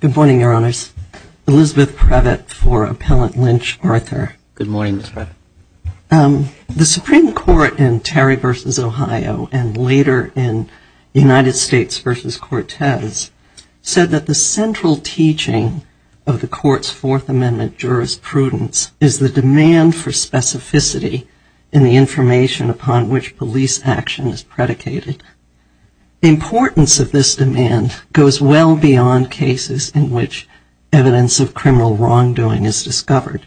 Good morning, Your Honors. Elizabeth Prevett for Appellant Lynch, Arthur. Good morning, Ms. Prevett. The Supreme Court in Terry v. Ohio and later in United States v. Cortez said that the central teaching of the Court's Fourth Amendment jurisprudence is the demand for specificity in the information upon which police action is predicated. The importance of this demand goes well beyond cases in which evidence of criminal wrongdoing is discovered.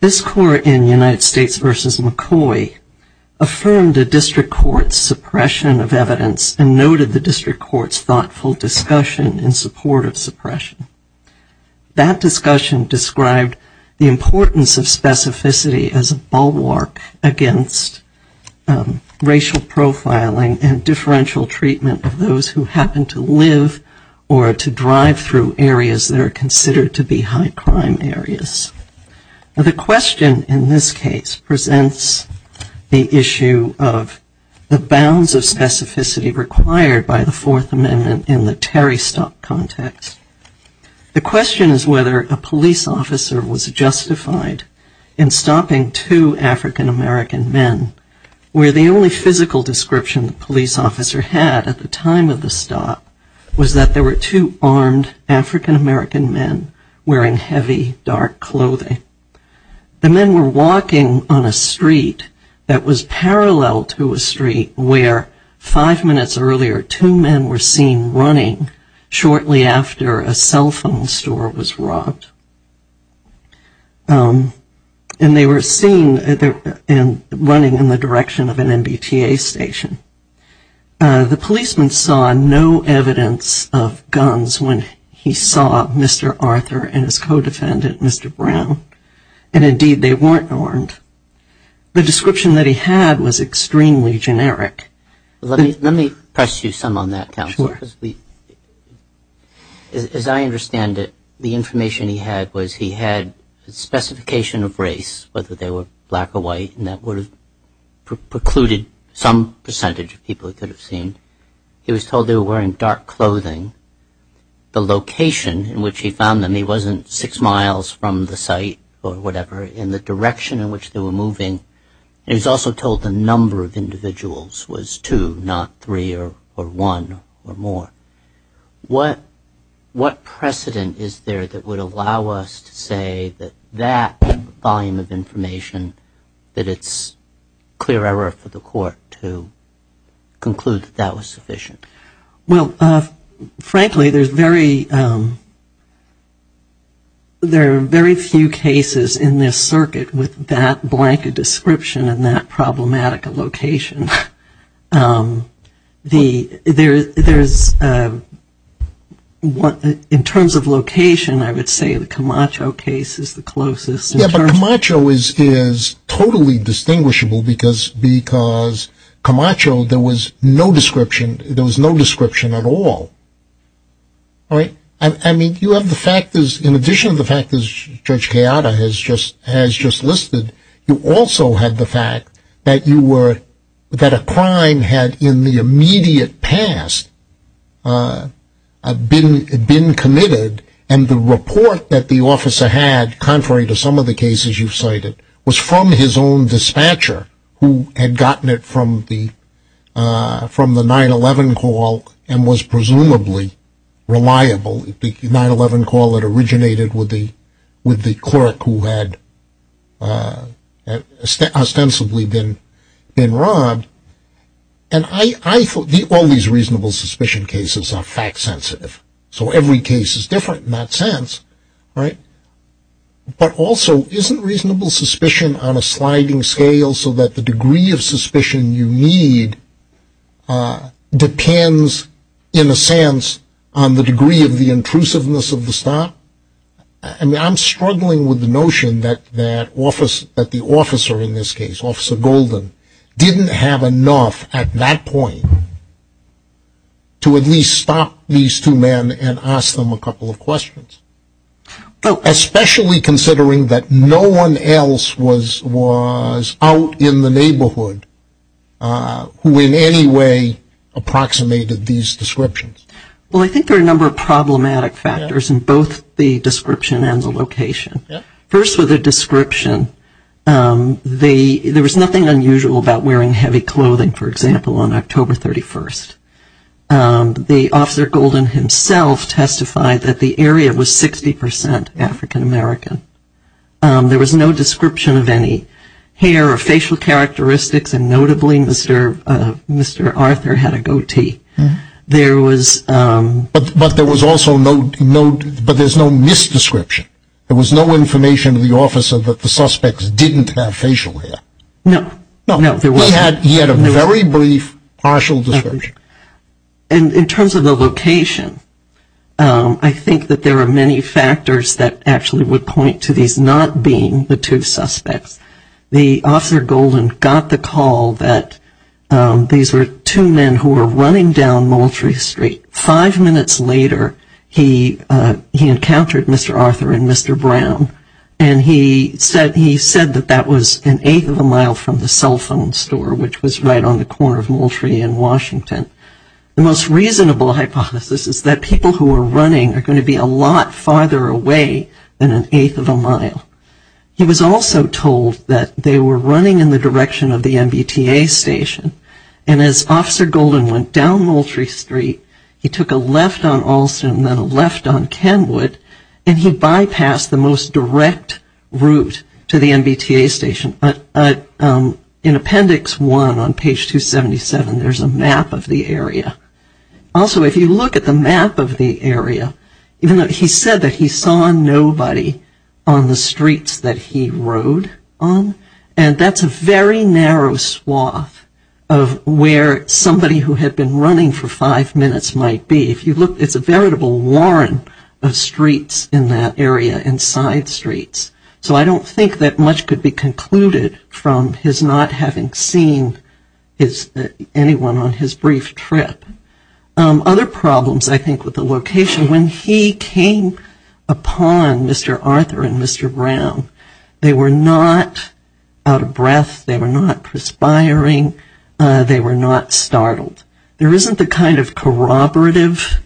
This Court in United States v. McCoy affirmed a district court's suppression of evidence and noted the district court's thoughtful discussion in support of suppression. That discussion described the importance of specificity as a bulwark against racial profiling and differential treatment of those who happen to live or to drive through areas that are The question in this case presents the issue of the bounds of specificity required by the Fourth Amendment in the Terry stop context. The question is whether a police officer was justified in stopping two African-American men, where the only physical description the police officer had at the time of the stop was that there were two armed African-American men wearing heavy, dark clothing. The men were walking on a street that was parallel to a street where, five minutes earlier, two men were seen running shortly after a cell phone store was robbed. And they were seen running in the direction of an MBTA station. The policeman saw no evidence of guns when he saw Mr. Arthur and his co-defendant, Mr. Brown. And, indeed, they weren't armed. The description that he had was extremely generic. Let me press you some on that, Counselor. As I understand it, the information he had was he had a specification of race, whether they were black or white, and that would have precluded some percentage of people he could have seen. He was told they were wearing dark clothing. The location in which he found them, he wasn't six miles from the site or whatever. And the direction in which they were moving, he was also told the number of individuals was two, not three or one or more. What precedent is there that would allow us to say that that volume of information, that it's clear error for the court to conclude that that was sufficient? Well, frankly, there are very few cases in this circuit with that blanket description and that problematic location. In terms of location, I would say the Camacho case is the closest. Yeah, but Camacho is totally distinguishable because Camacho, there was no description at all. All right? I mean, you have the factors, in addition to the factors Judge Chiara has just listed, you also had the fact that a crime had, in the immediate past, been committed, and the report that the officer had, contrary to some of the cases you've cited, was from his own dispatcher who had gotten it from the 9-11 call and was presumably reliable. The 9-11 call had originated with the clerk who had ostensibly been robbed, and I thought all these reasonable suspicion cases are fact sensitive, so every case is different in that sense, right? But also, isn't reasonable suspicion on a sliding scale so that the degree of suspicion you need depends, in a sense, on the degree of the intrusiveness of the stop? I mean, I'm struggling with the notion that the officer in this case, Officer Golden, didn't have enough at that point to at least stop these two men and ask them a couple of questions, especially considering that no one else was out in the neighborhood who in any way approximated these descriptions. Well, I think there are a number of problematic factors in both the description and the location. First, with the description, there was nothing unusual about wearing heavy clothing, for example, on October 31st. The Officer Golden himself testified that the area was 60 percent African-American. There was no description of any hair or facial characteristics, and notably, Mr. Arthur had a goatee. But there's no mis-description. There was no information to the officer that the suspects didn't have facial hair. No, no, there wasn't. He had a very brief partial description. In terms of the location, I think that there are many factors that actually would point to these not being the two suspects. The Officer Golden got the call that these were two men who were running down Moultrie Street. Five minutes later, he encountered Mr. Arthur and Mr. Brown, and he said that that was an eighth of a mile from the cell phone store, which was right on the corner of Moultrie and Washington. The most reasonable hypothesis is that people who were running are going to be a lot farther away than an eighth of a mile. He was also told that they were running in the direction of the MBTA station, and as Officer Golden went down Moultrie Street, he took a left on Alston and then a left on Kenwood, and he bypassed the most direct route to the MBTA station. In Appendix 1 on page 277, there's a map of the area. Also, if you look at the map of the area, he said that he saw nobody on the streets that he rode on, and that's a very narrow swath of where somebody who had been running for five minutes might be. If you look, it's a veritable warren of streets in that area and side streets, so I don't think that much could be concluded from his not having seen anyone on his brief trip. Other problems, I think, with the location, when he came upon Mr. Arthur and Mr. Brown, they were not out of breath, they were not perspiring, they were not startled. There isn't the kind of corroborative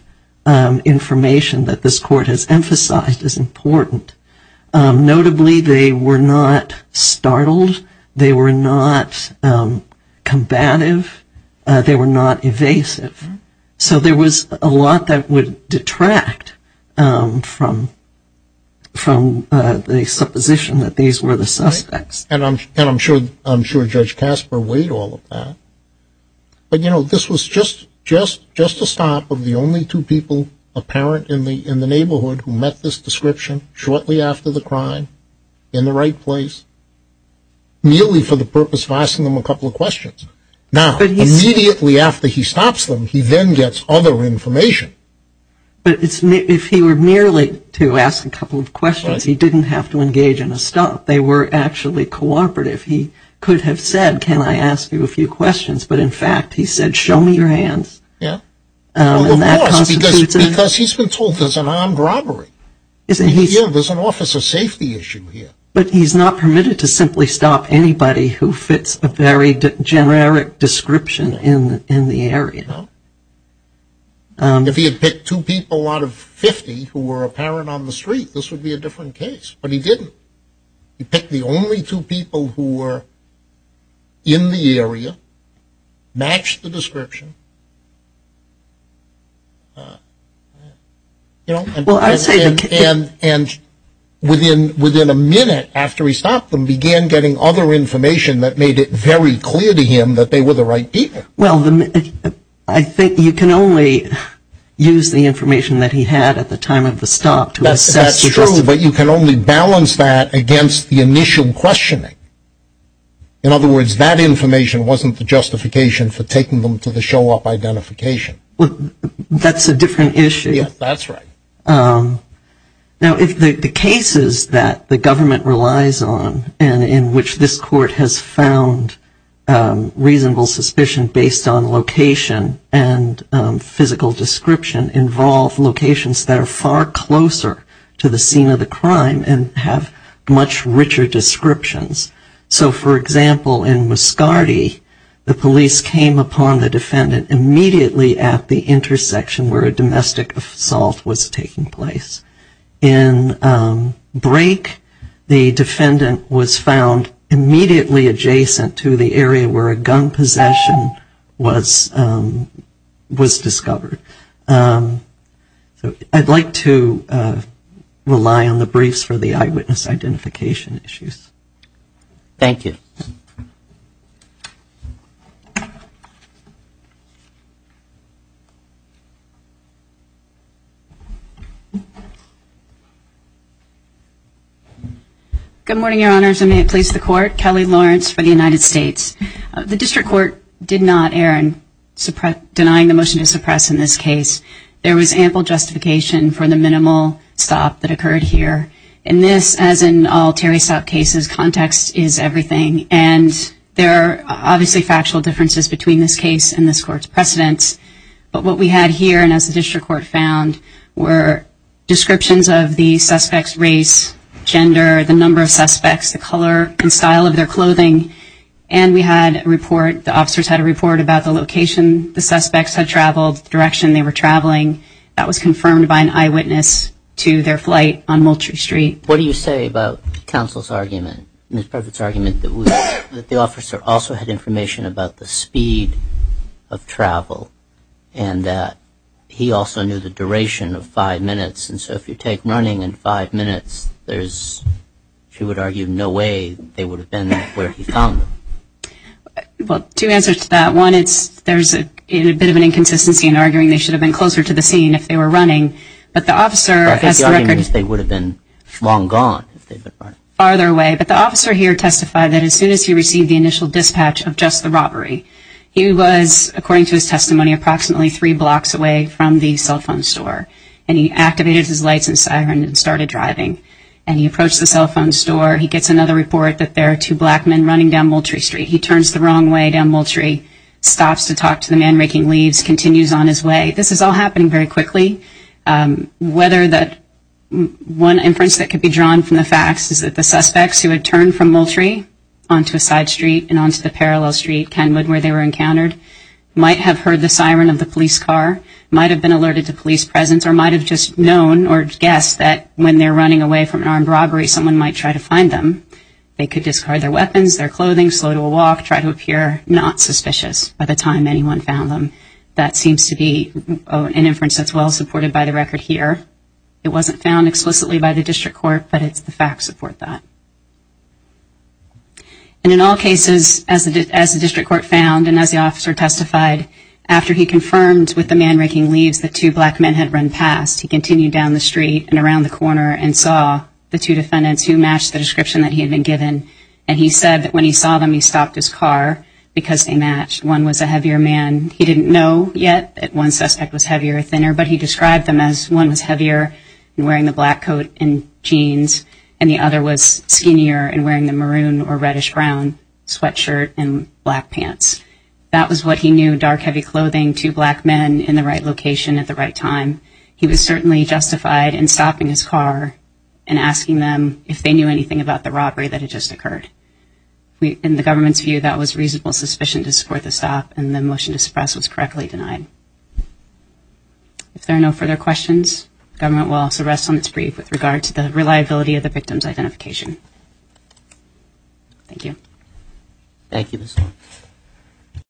information that this court has emphasized as important. Notably, they were not startled, they were not combative, they were not evasive. So there was a lot that would detract from the supposition that these were the suspects. And I'm sure Judge Casper weighed all of that. But, you know, this was just a stomp of the only two people apparent in the neighborhood who met this description shortly after the crime, in the right place, merely for the purpose of asking them a couple of questions. Now, immediately after he stops them, he then gets other information. But if he were merely to ask a couple of questions, he didn't have to engage in a stomp. They were actually cooperative. He could have said, can I ask you a few questions? But, in fact, he said, show me your hands. Yeah. Well, of course, because he's been told there's an armed robbery. Yeah, there's an officer safety issue here. But he's not permitted to simply stop anybody who fits a very generic description in the area. No. If he had picked two people out of 50 who were apparent on the street, this would be a different case. But he didn't. He picked the only two people who were in the area, matched the description. And within a minute after he stopped them, began getting other information that made it very clear to him that they were the right people. Well, I think you can only use the information that he had at the time of the stop to assess. That's true, but you can only balance that against the initial questioning. In other words, that information wasn't the justification for taking them to the show-up identification. That's a different issue. Yeah, that's right. Now, if the cases that the government relies on and in which this court has found reasonable suspicion based on location and physical description involve locations that are far closer to the scene of the crime and have much richer descriptions. So, for example, in Muscardy, the police came upon the defendant immediately at the intersection where a domestic assault was taking place. In Brake, the defendant was found immediately adjacent to the area where a gun possession was discovered. So I'd like to rely on the briefs for the eyewitness identification issues. Thank you. Good morning, Your Honors, and may it please the Court. Kelly Lawrence for the United States. The District Court did not err in denying the motion to suppress in this case. There was ample justification for the minimal stop that occurred here. In this, as in all Terry Stout cases, context is everything, and there are obviously factual differences between this case and this Court's precedents. But what we had here, and as the District Court found, were descriptions of the suspect's race, gender, the number of suspects, the color and style of their clothing, and we had a report, the officers had a report about the location the suspects had traveled, the direction they were traveling. That was confirmed by an eyewitness to their flight on Moultrie Street. What do you say about counsel's argument, Ms. Prevost's argument, that the officer also had information about the speed of travel and that he also knew the duration of five minutes, and so if you take running and five minutes, there's, she would argue, no way they would have been where he found them. Well, two answers to that. One, there's a bit of an inconsistency in arguing they should have been closer to the scene if they were running, but the officer has the record. I think the argument is they would have been long gone if they'd been running. Farther away. But the officer here testified that as soon as he received the initial dispatch of just the robbery, he was, according to his testimony, approximately three blocks away from the cell phone store, and he activated his lights and siren and started driving, and he approached the cell phone store. He gets another report that there are two black men running down Moultrie Street. He turns the wrong way down Moultrie, stops to talk to the man raking leaves, continues on his way. This is all happening very quickly. One inference that could be drawn from the facts is that the suspects who had turned from Moultrie onto a side street and onto the parallel street, Kenwood, where they were encountered, might have heard the siren of the police car, might have been alerted to police presence, or might have just known or guessed that when they're running away from an armed robbery, someone might try to find them. They could discard their weapons, their clothing, slow to a walk, try to appear not suspicious by the time anyone found them. That seems to be an inference that's well supported by the record here. It wasn't found explicitly by the district court, but it's the facts that support that. And in all cases, as the district court found and as the officer testified, after he confirmed with the man raking leaves that two black men had run past, he continued down the street and around the corner and saw the two defendants who matched the description that he had been given. And he said that when he saw them, he stopped his car because they matched. One was a heavier man. He didn't know yet that one suspect was heavier or thinner, but he described them as one was heavier and wearing the black coat and jeans, and the other was skinnier and wearing the maroon or reddish-brown sweatshirt and black pants. That was what he knew, dark, heavy clothing, two black men in the right location at the right time. He was certainly justified in stopping his car and asking them if they knew anything about the robbery that had just occurred. In the government's view, that was reasonable suspicion to support the stop, and the motion to suppress was correctly denied. If there are no further questions, the government will also rest on its brief with regard to the reliability of the victim's identification. Thank you. Thank you, Ms. Long.